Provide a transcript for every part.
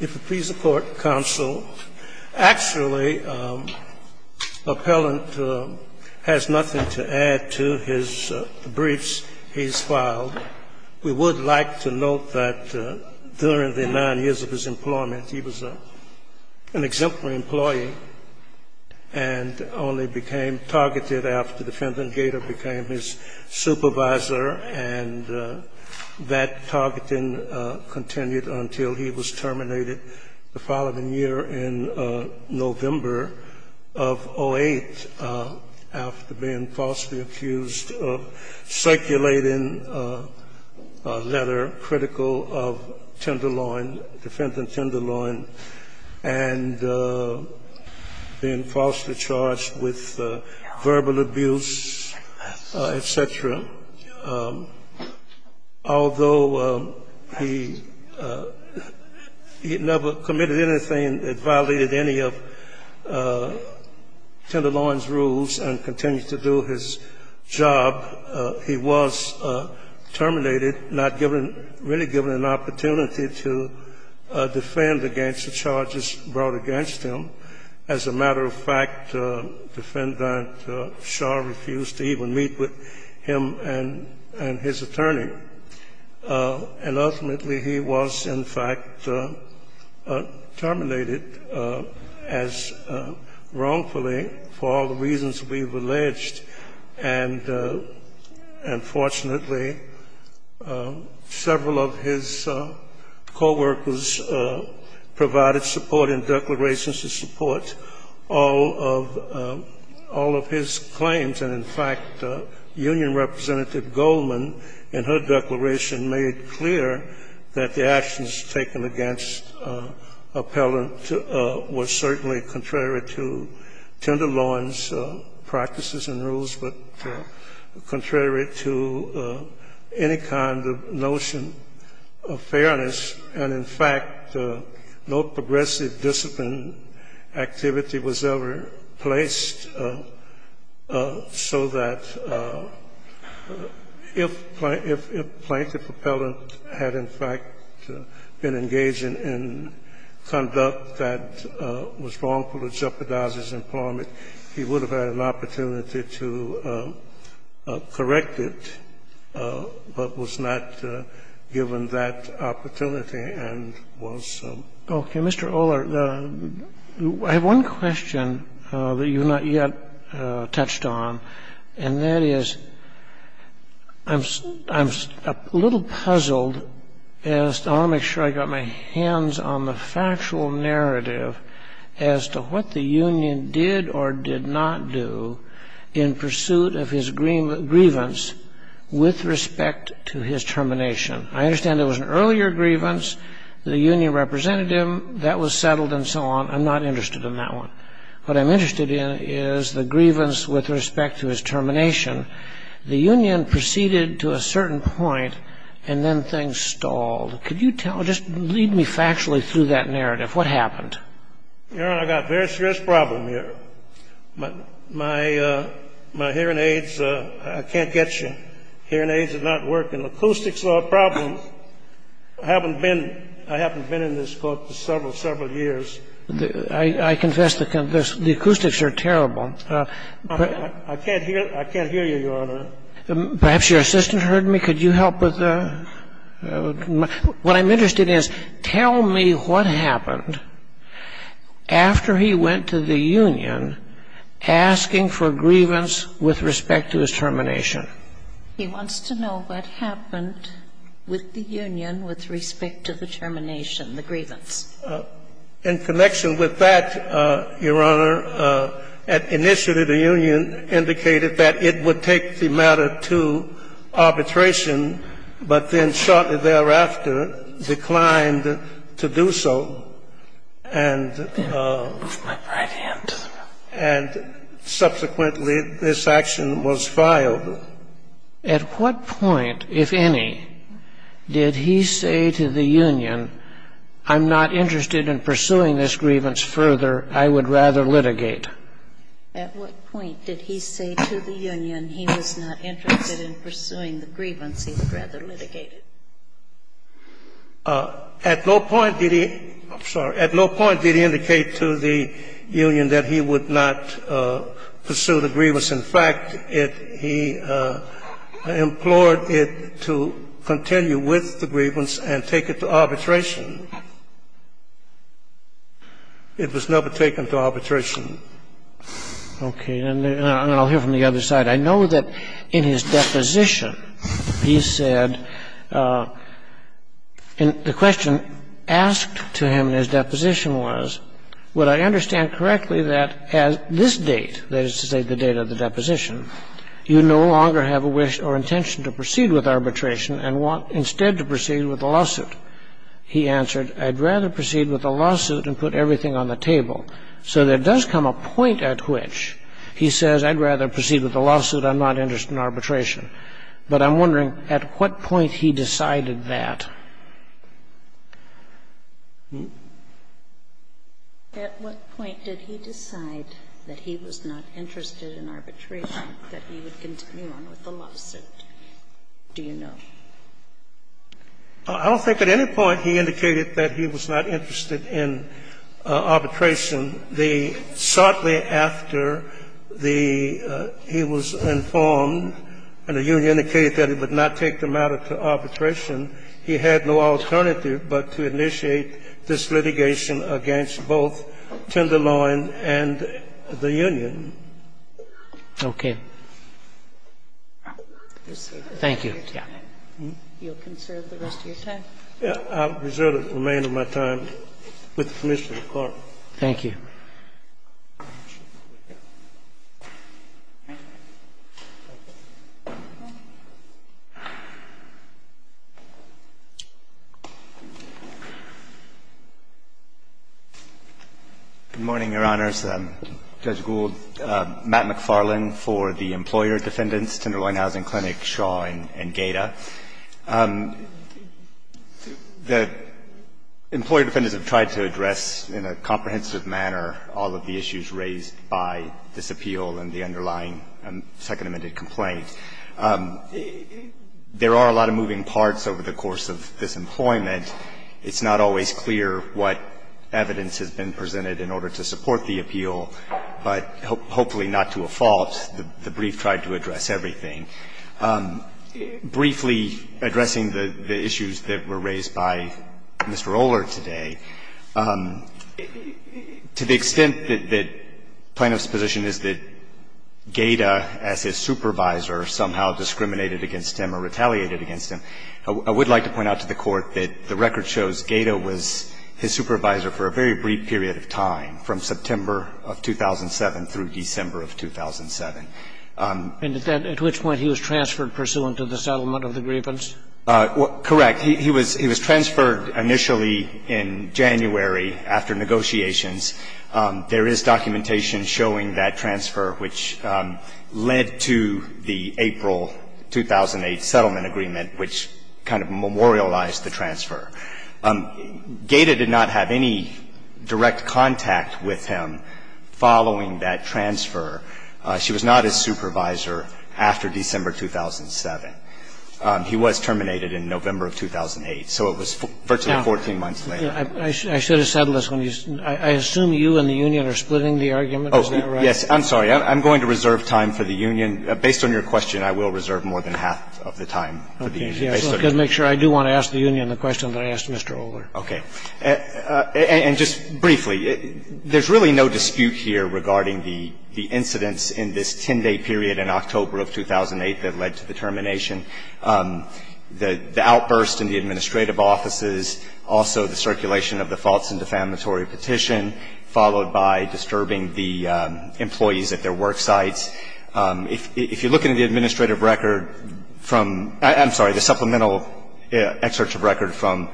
If it please the court, counsel, actually, appellant has nothing to add to his briefs he's filed. We would like to note that during the nine years of his employment, he was an exemplary employee and only became targeted after the defendant Gator became his supervisor and that targeting continued until he was terminated the following year in November of 08, after being falsely accused of circulating a letter critical of Tenderloin, defendant Tenderloin, and being falsely charged with verbal abuse, et cetera. Although he never committed anything that violated any of Tenderloin's rules and continued to do his job, he was terminated, not given, really given an opportunity to defend against the charges brought against him. As a matter of fact, defendant Shah refused to even meet with him and his attorney. And ultimately, he was, in fact, terminated as wrongfully for all the reasons we've alleged. And fortunately, several of his coworkers provided support and declarations of support, all of his claims. And, in fact, Union Representative Goldman, in her declaration, made clear that the actions taken against appellant were certainly contrary to Tenderloin's practices and rules, but contrary to any kind of notion of fairness. And, in fact, no progressive discipline activity was ever placed so that if Plaintiff Appellant had, in fact, been engaging in conduct that was wrongful to jeopardize his employment, he would have had an opportunity to correct it, but was not given that opportunity and was so. Okay. Mr. Oler, I have one question that you have not yet touched on, and that is, I'm a little puzzled as to how to make sure I got my hands on the factual narrative as to what the union did or did not do in pursuit of his grievance with respect to his termination. I understand there was an earlier grievance. The union representative, that was settled and so on. I'm not interested in that one. What I'm interested in is the grievance with respect to his termination. The union proceeded to a certain point, and then things stalled. Could you just lead me factually through that narrative? What happened? Your Honor, I've got a very serious problem here. My hearing aids, I can't catch them. My hearing aids are not working. Acoustics are a problem. I haven't been in this court for several, several years. I confess the acoustics are terrible. I can't hear you, Your Honor. Perhaps your assistant heard me. Could you help with the ñ what I'm interested in is tell me what happened after he went to the union asking for grievance with respect to his termination. He wants to know what happened with the union with respect to the termination, the grievance. In connection with that, Your Honor, at initiative the union indicated that it would take the matter to arbitration, but then shortly thereafter declined to do so, and then subsequently this action was filed. At what point, if any, did he say to the union, I'm not interested in pursuing this grievance further, I would rather litigate? At what point did he say to the union he was not interested in pursuing the grievance he would rather litigate it? At no point did he ñ I'm sorry. At no point did he indicate to the union that he would not pursue the grievance. In fact, he implored it to continue with the grievance and take it to arbitration. It was never taken to arbitration. Okay. And I'll hear from the other side. I know that in his deposition he said ñ and the question asked to him in his deposition was, would I understand correctly that at this date, that is to say the date of the deposition, you no longer have a wish or intention to proceed with arbitration and want instead to proceed with a lawsuit? He answered, I'd rather proceed with a lawsuit and put everything on the table. So there does come a point at which he says, I'd rather proceed with a lawsuit, I'm not interested in arbitration. But I'm wondering at what point he decided that. At what point did he decide that he was not interested in arbitration, that he would continue on with the lawsuit? Do you know? I don't think at any point he indicated that he was not interested in arbitration. The ñ shortly after the ñ he was informed and the union indicated that it would not take the matter to arbitration, he had no alternative but to initiate this litigation against both Tenderloin and the union. Okay. Thank you. You'll conserve the rest of your time? I'll reserve the remainder of my time with the Commissioner of the Court. Thank you. Good morning, Your Honors. Judge Gould, Matt McFarland for the employer defendants, Tenderloin Housing Clinic, Shaw and Gaeta. The employer defendants have tried to address in a comprehensive manner all of the issues raised by this appeal and the underlying second amended complaint. There are a lot of moving parts over the course of this employment. It's not always clear what evidence has been presented in order to support the appeal, but hopefully not to a fault. The brief tried to address everything. Briefly addressing the issues that were raised by Mr. Oler today, to the extent that plaintiff's position is that Gaeta, as his supervisor, somehow discriminated against him or retaliated against him, I would like to point out to the Court that the record shows Gaeta was his supervisor for a very brief period of time, from September of 2007 through December of 2007. And at which point he was transferred pursuant to the settlement of the grievance? Correct. He was transferred initially in January after negotiations. There is documentation showing that transfer, which led to the April 2008 settlement agreement, which kind of memorialized the transfer. Gaeta did not have any direct contact with him following that transfer. She was not his supervisor after December 2007. He was terminated in November of 2008. So it was virtually 14 months later. I should have said this. I assume you and the union are splitting the argument. Oh, yes. I'm sorry. I'm going to reserve time for the union. Based on your question, I will reserve more than half of the time for the union. Okay. I've got to make sure I do want to ask the union the question that I asked Mr. Oler. Okay. And just briefly, there's really no dispute here regarding the incidents in this 10-day period in October of 2008 that led to the termination, the outburst in the administrative offices, also the circulation of the false and defamatory petition, followed by disturbing the employees at their work sites. If you're looking at the administrative record from – I'm sorry, the supplemental excerpt of record from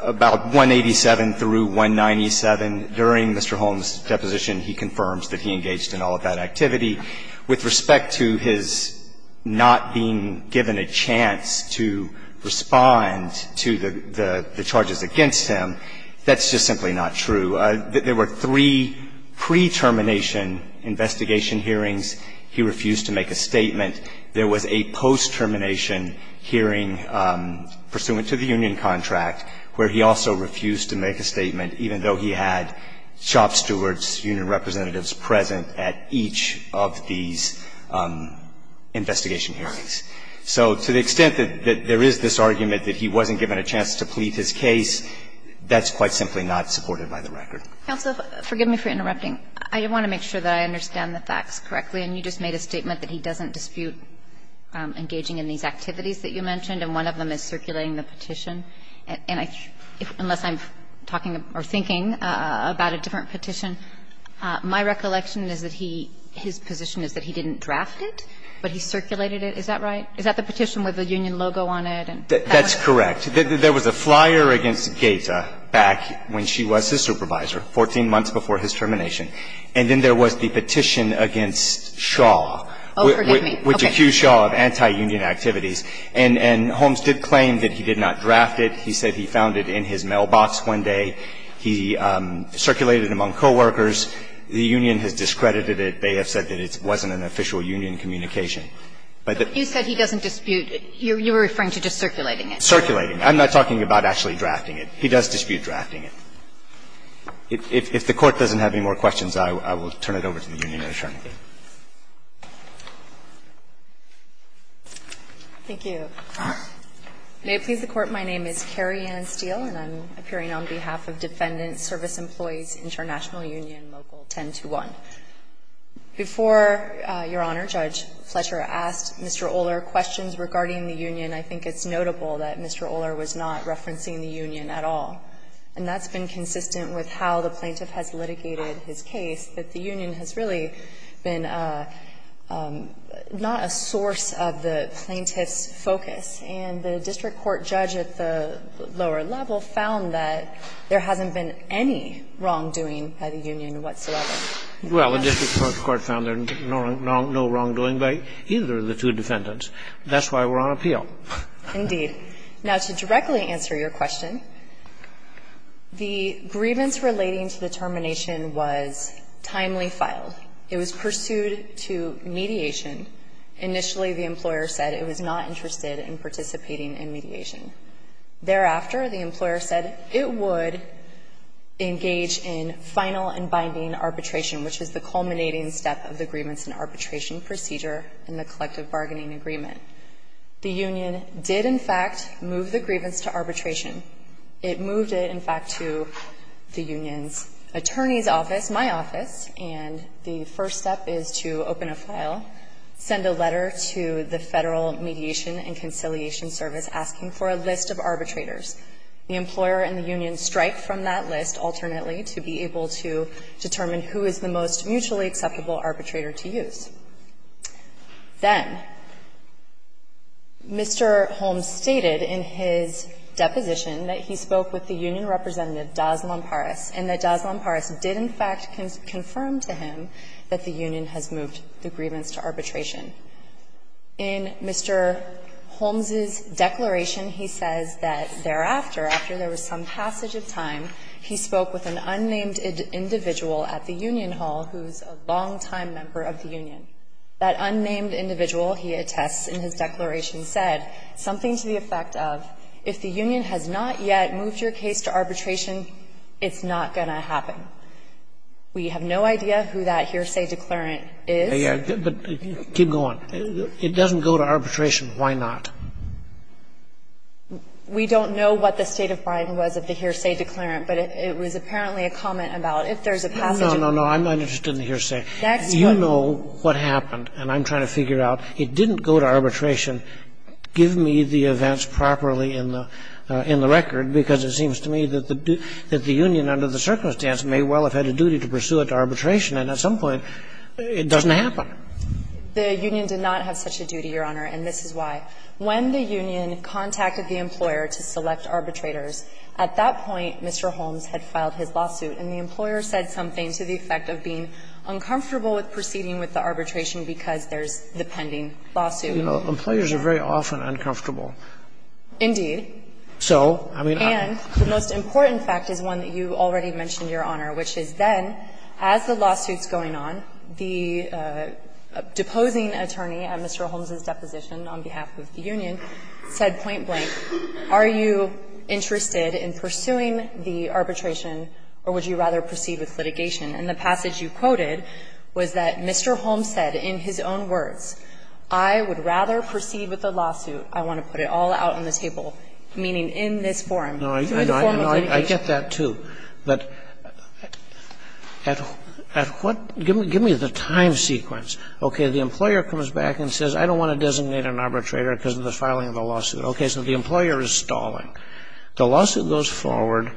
about 187 through 197 during Mr. Holmes' deposition, he confirms that he engaged in all of that activity. With respect to his not being given a chance to respond to the charges against him, that's just simply not true. There were three pre-termination investigation hearings. He refused to make a statement. There was a post-termination hearing pursuant to the union contract where he also refused to make a statement, even though he had shop stewards, union representatives present at each of these investigation hearings. So to the extent that there is this argument that he wasn't given a chance to plead his case, that's quite simply not supported by the record. Kagan. And so forgive me for interrupting. I want to make sure that I understand the facts correctly. And you just made a statement that he doesn't dispute engaging in these activities that you mentioned, and one of them is circulating the petition. And I – unless I'm talking or thinking about a different petition, my recollection is that he – his position is that he didn't draft it, but he circulated it, is that right? Is that the petition with the union logo on it and that was it? That's correct. There was a flyer against Gaeta back when she was his supervisor, 14 months before his termination. And then there was the petition against Shaw. Oh, forgive me. Okay. Which accused Shaw of anti-union activities. And – and Holmes did claim that he did not draft it. He said he found it in his mailbox one day. He circulated it among coworkers. The union has discredited it. They have said that it wasn't an official union communication. But you said he doesn't dispute – you're referring to just circulating it. Circulating it. I'm not talking about actually drafting it. He does dispute drafting it. If the Court doesn't have any more questions, I will turn it over to the union attorney. Thank you. May it please the Court, my name is Carrie Ann Steele and I'm appearing on behalf of Defendant Service Employees International Union Local 1021. And I think it's notable that Mr. Oler was not referencing the union at all. And that's been consistent with how the plaintiff has litigated his case, that the union has really been not a source of the plaintiff's focus. And the district court judge at the lower level found that there hasn't been any wrongdoing by the union whatsoever. Well, the district court found there no wrongdoing by either of the two defendants. That's why we're on appeal. Indeed. Now, to directly answer your question, the grievance relating to the termination was timely filed. It was pursued to mediation. Initially, the employer said it was not interested in participating in mediation. Thereafter, the employer said it would engage in final and binding arbitration, which is the culminating step of the grievance and arbitration procedure in the collective bargaining agreement. The union did, in fact, move the grievance to arbitration. It moved it, in fact, to the union's attorney's office, my office, and the first step is to open a file, send a letter to the Federal Mediation and Conciliation Service asking for a list of arbitrators. The employer and the union strike from that list alternately to be able to determine who is the most mutually acceptable arbitrator to use. Then Mr. Holmes stated in his deposition that he spoke with the union representative Das Lamparas and that Das Lamparas did, in fact, confirm to him that the union has moved the grievance to arbitration. In Mr. Holmes's declaration, he says that thereafter, after there was some passage of time, he spoke with an unnamed individual at the union hall who's a longtime member of the union. That unnamed individual, he attests in his declaration, said something to the effect of, if the union has not yet moved your case to arbitration, it's not going to happen. We have no idea who that hearsay declarant is. Scalia. But keep going. It doesn't go to arbitration. Why not? We don't know what the state of mind was of the hearsay declarant, but it was apparently a comment about if there's a passage of time. No, no, no. I'm not interested in the hearsay. You know what happened, and I'm trying to figure it out. It didn't go to arbitration. Give me the events properly in the record, because it seems to me that the union, under the circumstance, may well have had a duty to pursue it to arbitration, and at some point it doesn't happen. The union did not have such a duty, Your Honor, and this is why. When the union contacted the employer to select arbitrators, at that point, Mr. Holmes had filed his lawsuit, and the employer said something to the effect of being uncomfortable with proceeding with the arbitration because there's the pending lawsuit. Employers are very often uncomfortable. So, I mean, I'm not going to argue with that. And the most important fact is one that you already mentioned, Your Honor, which is then, as the lawsuit's going on, the deposing attorney at Mr. Holmes' deposition on behalf of the union said point blank, are you interested in pursuing the arbitration or would you rather proceed with litigation? And the passage you quoted was that Mr. Holmes said in his own words, I would rather proceed with the lawsuit, I want to put it all out on the table, meaning in this forum, through the form of litigation. Sotomayor No, I get that, too, but at what – give me the time sequence. Okay, the employer comes back and says, I don't want to designate an arbitrator because of the filing of the lawsuit. Okay, so the employer is stalling. The lawsuit goes forward,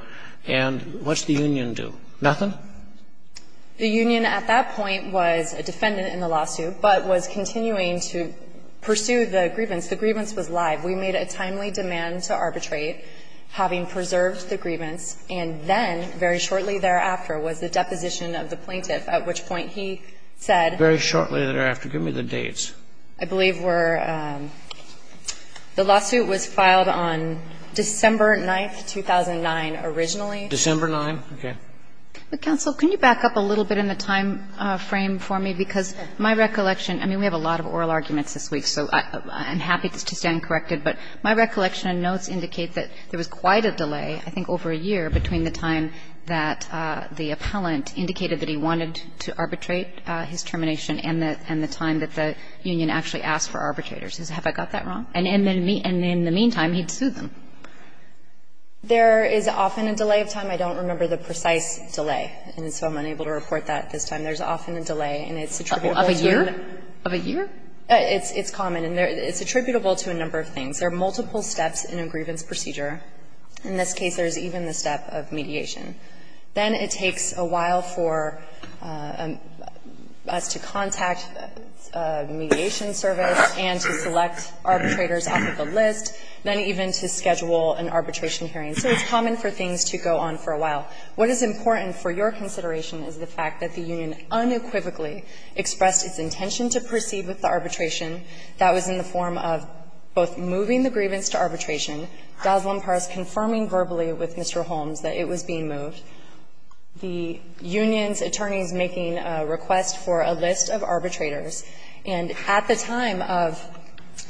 and what's the union do? Nothing? The union at that point was a defendant in the lawsuit, but was continuing to pursue the grievance. The grievance was live. We made a timely demand to arbitrate, having preserved the grievance, and then very shortly thereafter was the deposition of the plaintiff, at which point he said – Very shortly thereafter. Give me the dates. I believe we're – the lawsuit was filed on December 9th, 2009, originally. December 9th, okay. Counsel, can you back up a little bit in the time frame for me, because my recollection – I mean, we have a lot of oral arguments this week, so I'm happy to stand corrected, but my recollection notes indicate that there was quite a delay, I think over a year, between the time that the appellant indicated that he wanted to arbitrate his termination and the time that the union actually asked for arbitrators. Have I got that wrong? And in the meantime, he'd sued them. There is often a delay of time. I don't remember the precise delay, and so I'm unable to report that at this time. There's often a delay, and it's attributable to a number of things. There are multiple steps in a grievance procedure. In this case, there's even the step of mediation. Then it takes a while for us to contact a mediation service and to select arbitrators off of a list, then even to schedule an arbitration hearing. So it's common for things to go on for a while. What is important for your consideration is the fact that the union unequivocally expressed its intention to proceed with the arbitration. That was in the form of both moving the grievance to arbitration, Dozlan-Parras and confirming verbally with Mr. Holmes that it was being moved. The union's attorney is making a request for a list of arbitrators, and at the time of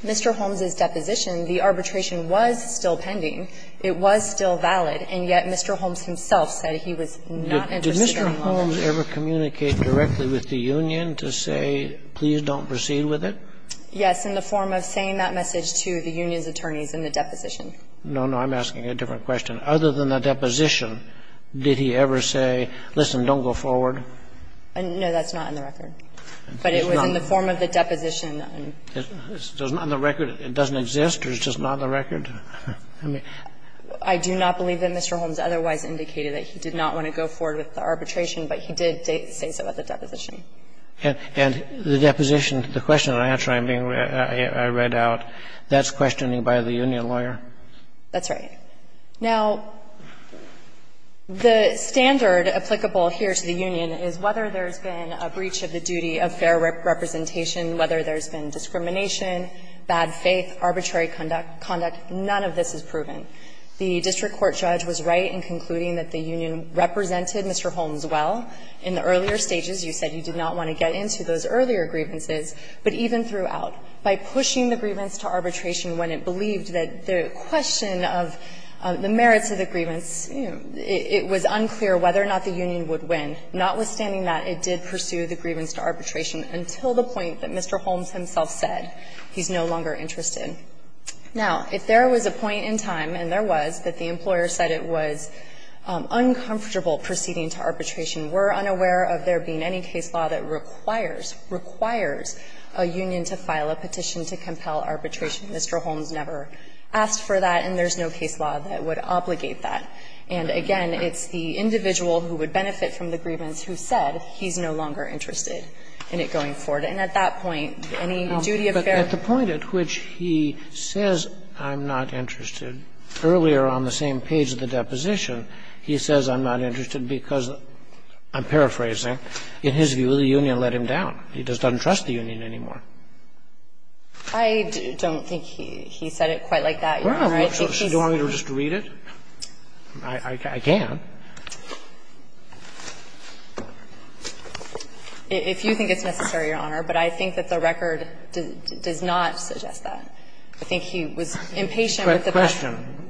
Mr. Holmes' deposition, the arbitration was still pending. It was still valid, and yet Mr. Holmes himself said he was not interested in a moment. Did Mr. Holmes ever communicate directly with the union to say, please don't proceed with it? Yes, in the form of saying that message to the union's attorneys in the deposition. No, no, I'm asking a different question. Other than the deposition, did he ever say, listen, don't go forward? No, that's not in the record. But it was in the form of the deposition. On the record, it doesn't exist, or it's just not on the record? I do not believe that Mr. Holmes otherwise indicated that he did not want to go forward with the arbitration, but he did say so at the deposition. And the deposition, the question and answer I read out, that's questioning by the union lawyer? That's right. Now, the standard applicable here to the union is whether there's been a breach of the duty of fair representation, whether there's been discrimination, bad faith, arbitrary conduct, none of this is proven. The district court judge was right in concluding that the union represented Mr. Holmes well in the earlier stages. You said you did not want to get into those earlier grievances, but even throughout. By pushing the grievance to arbitration when it believed that the question of the merits of the grievance, it was unclear whether or not the union would win. Notwithstanding that, it did pursue the grievance to arbitration until the point that Mr. Holmes himself said he's no longer interested. Now, if there was a point in time, and there was, that the employer said it was uncomfortable proceeding to arbitration, we're unaware of there being any case law that requires a union to file a petition to compel arbitration. Mr. Holmes never asked for that, and there's no case law that would obligate that. And again, it's the individual who would benefit from the grievance who said he's no longer interested in it going forward. And at that point, any duty of fair or unfair representation is unclear. But at the point at which he says I'm not interested, earlier on the same page of the deposition, he says I'm not interested because, I'm paraphrasing, in his view the union is no longer interested in arbitration. He doesn't trust the union anymore. I don't think he said it quite like that, Your Honor. Do you want me to just read it? I can. If you think it's necessary, Your Honor, but I think that the record does not suggest that. I think he was impatient with the debate. Question.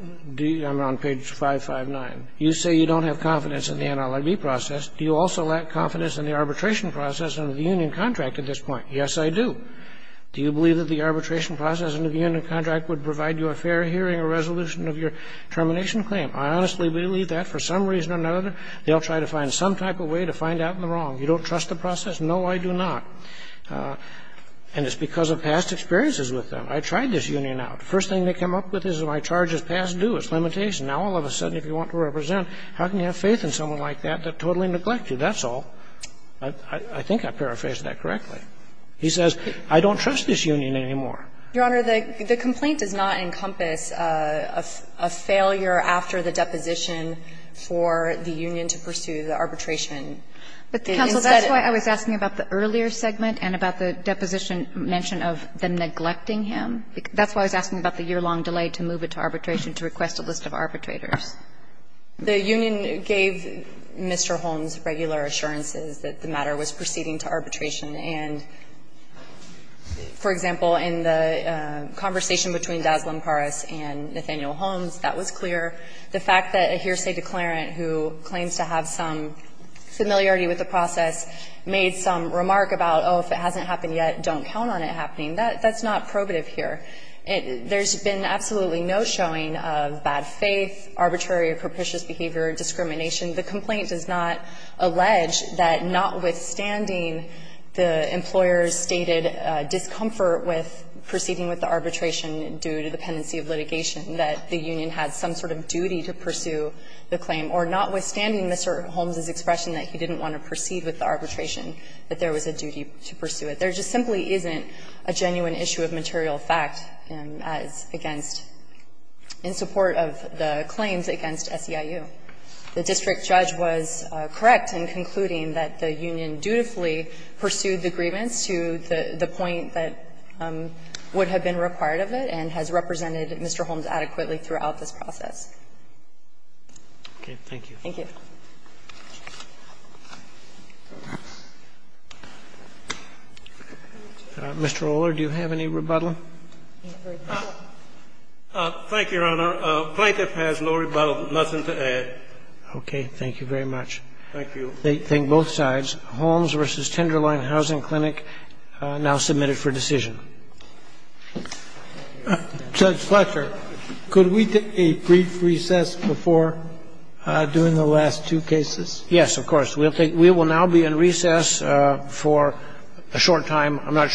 I'm on page 559. You say you don't have confidence in the NLIB process. Do you also lack confidence in the arbitration process under the union contract at this point? Yes, I do. Do you believe that the arbitration process under the union contract would provide you a fair hearing or resolution of your termination claim? I honestly believe that for some reason or another they'll try to find some type of way to find out in the wrong. You don't trust the process? No, I do not. And it's because of past experiences with them. I tried this union out. The first thing they come up with is my charge is past due, it's limitation. Now, all of a sudden, if you want to represent, how can you have faith in someone like that that totally neglects you? That's all. I think I paraphrased that correctly. He says, I don't trust this union anymore. Your Honor, the complaint does not encompass a failure after the deposition But instead of the union to pursue the arbitration, the union to pursue the arbitration is a failure. But, counsel, that's why I was asking about the earlier segment and about the deposition mention of them neglecting him. That's why I was asking about the yearlong delay to move it to arbitration to request a list of arbitrators. The union gave Mr. Holmes regular assurances that the matter was proceeding to arbitration. And, for example, in the conversation between Dazlan Paras and Nathaniel Holmes, that was clear. The fact that a hearsay declarant who claims to have some familiarity with the process made some remark about, oh, if it hasn't happened yet, don't count on it happening, that's not probative here. There's been absolutely no showing of bad faith, arbitrary or capricious behavior, discrimination. The complaint does not allege that notwithstanding the employer's stated discomfort with proceeding with the arbitration due to the pendency of litigation, that the union had some sort of duty to pursue the claim, or notwithstanding Mr. Holmes' expression that he didn't want to proceed with the arbitration, that there was a duty to pursue it. There just simply isn't a genuine issue of material fact as against – in support of the claims against SEIU. The district judge was correct in concluding that the union dutifully pursued the grievance to the point that would have been required of it and has represented Mr. Holmes adequately throughout this process. Okay. Thank you. Thank you. Mr. O'Leary, do you have any rebuttal? Thank you, Your Honor. Plaintiff has no rebuttal, nothing to add. Okay. Thank you very much. Thank you. Thank both sides. Holmes v. Tenderloin Housing Clinic now submitted for decision. Do we have any recess? Okay. Thank you. Is it, is there any discussion or discussion of a brief recess before doing the last two cases? Yes, of course. We will now be in recess for a short time. A short time. All rise.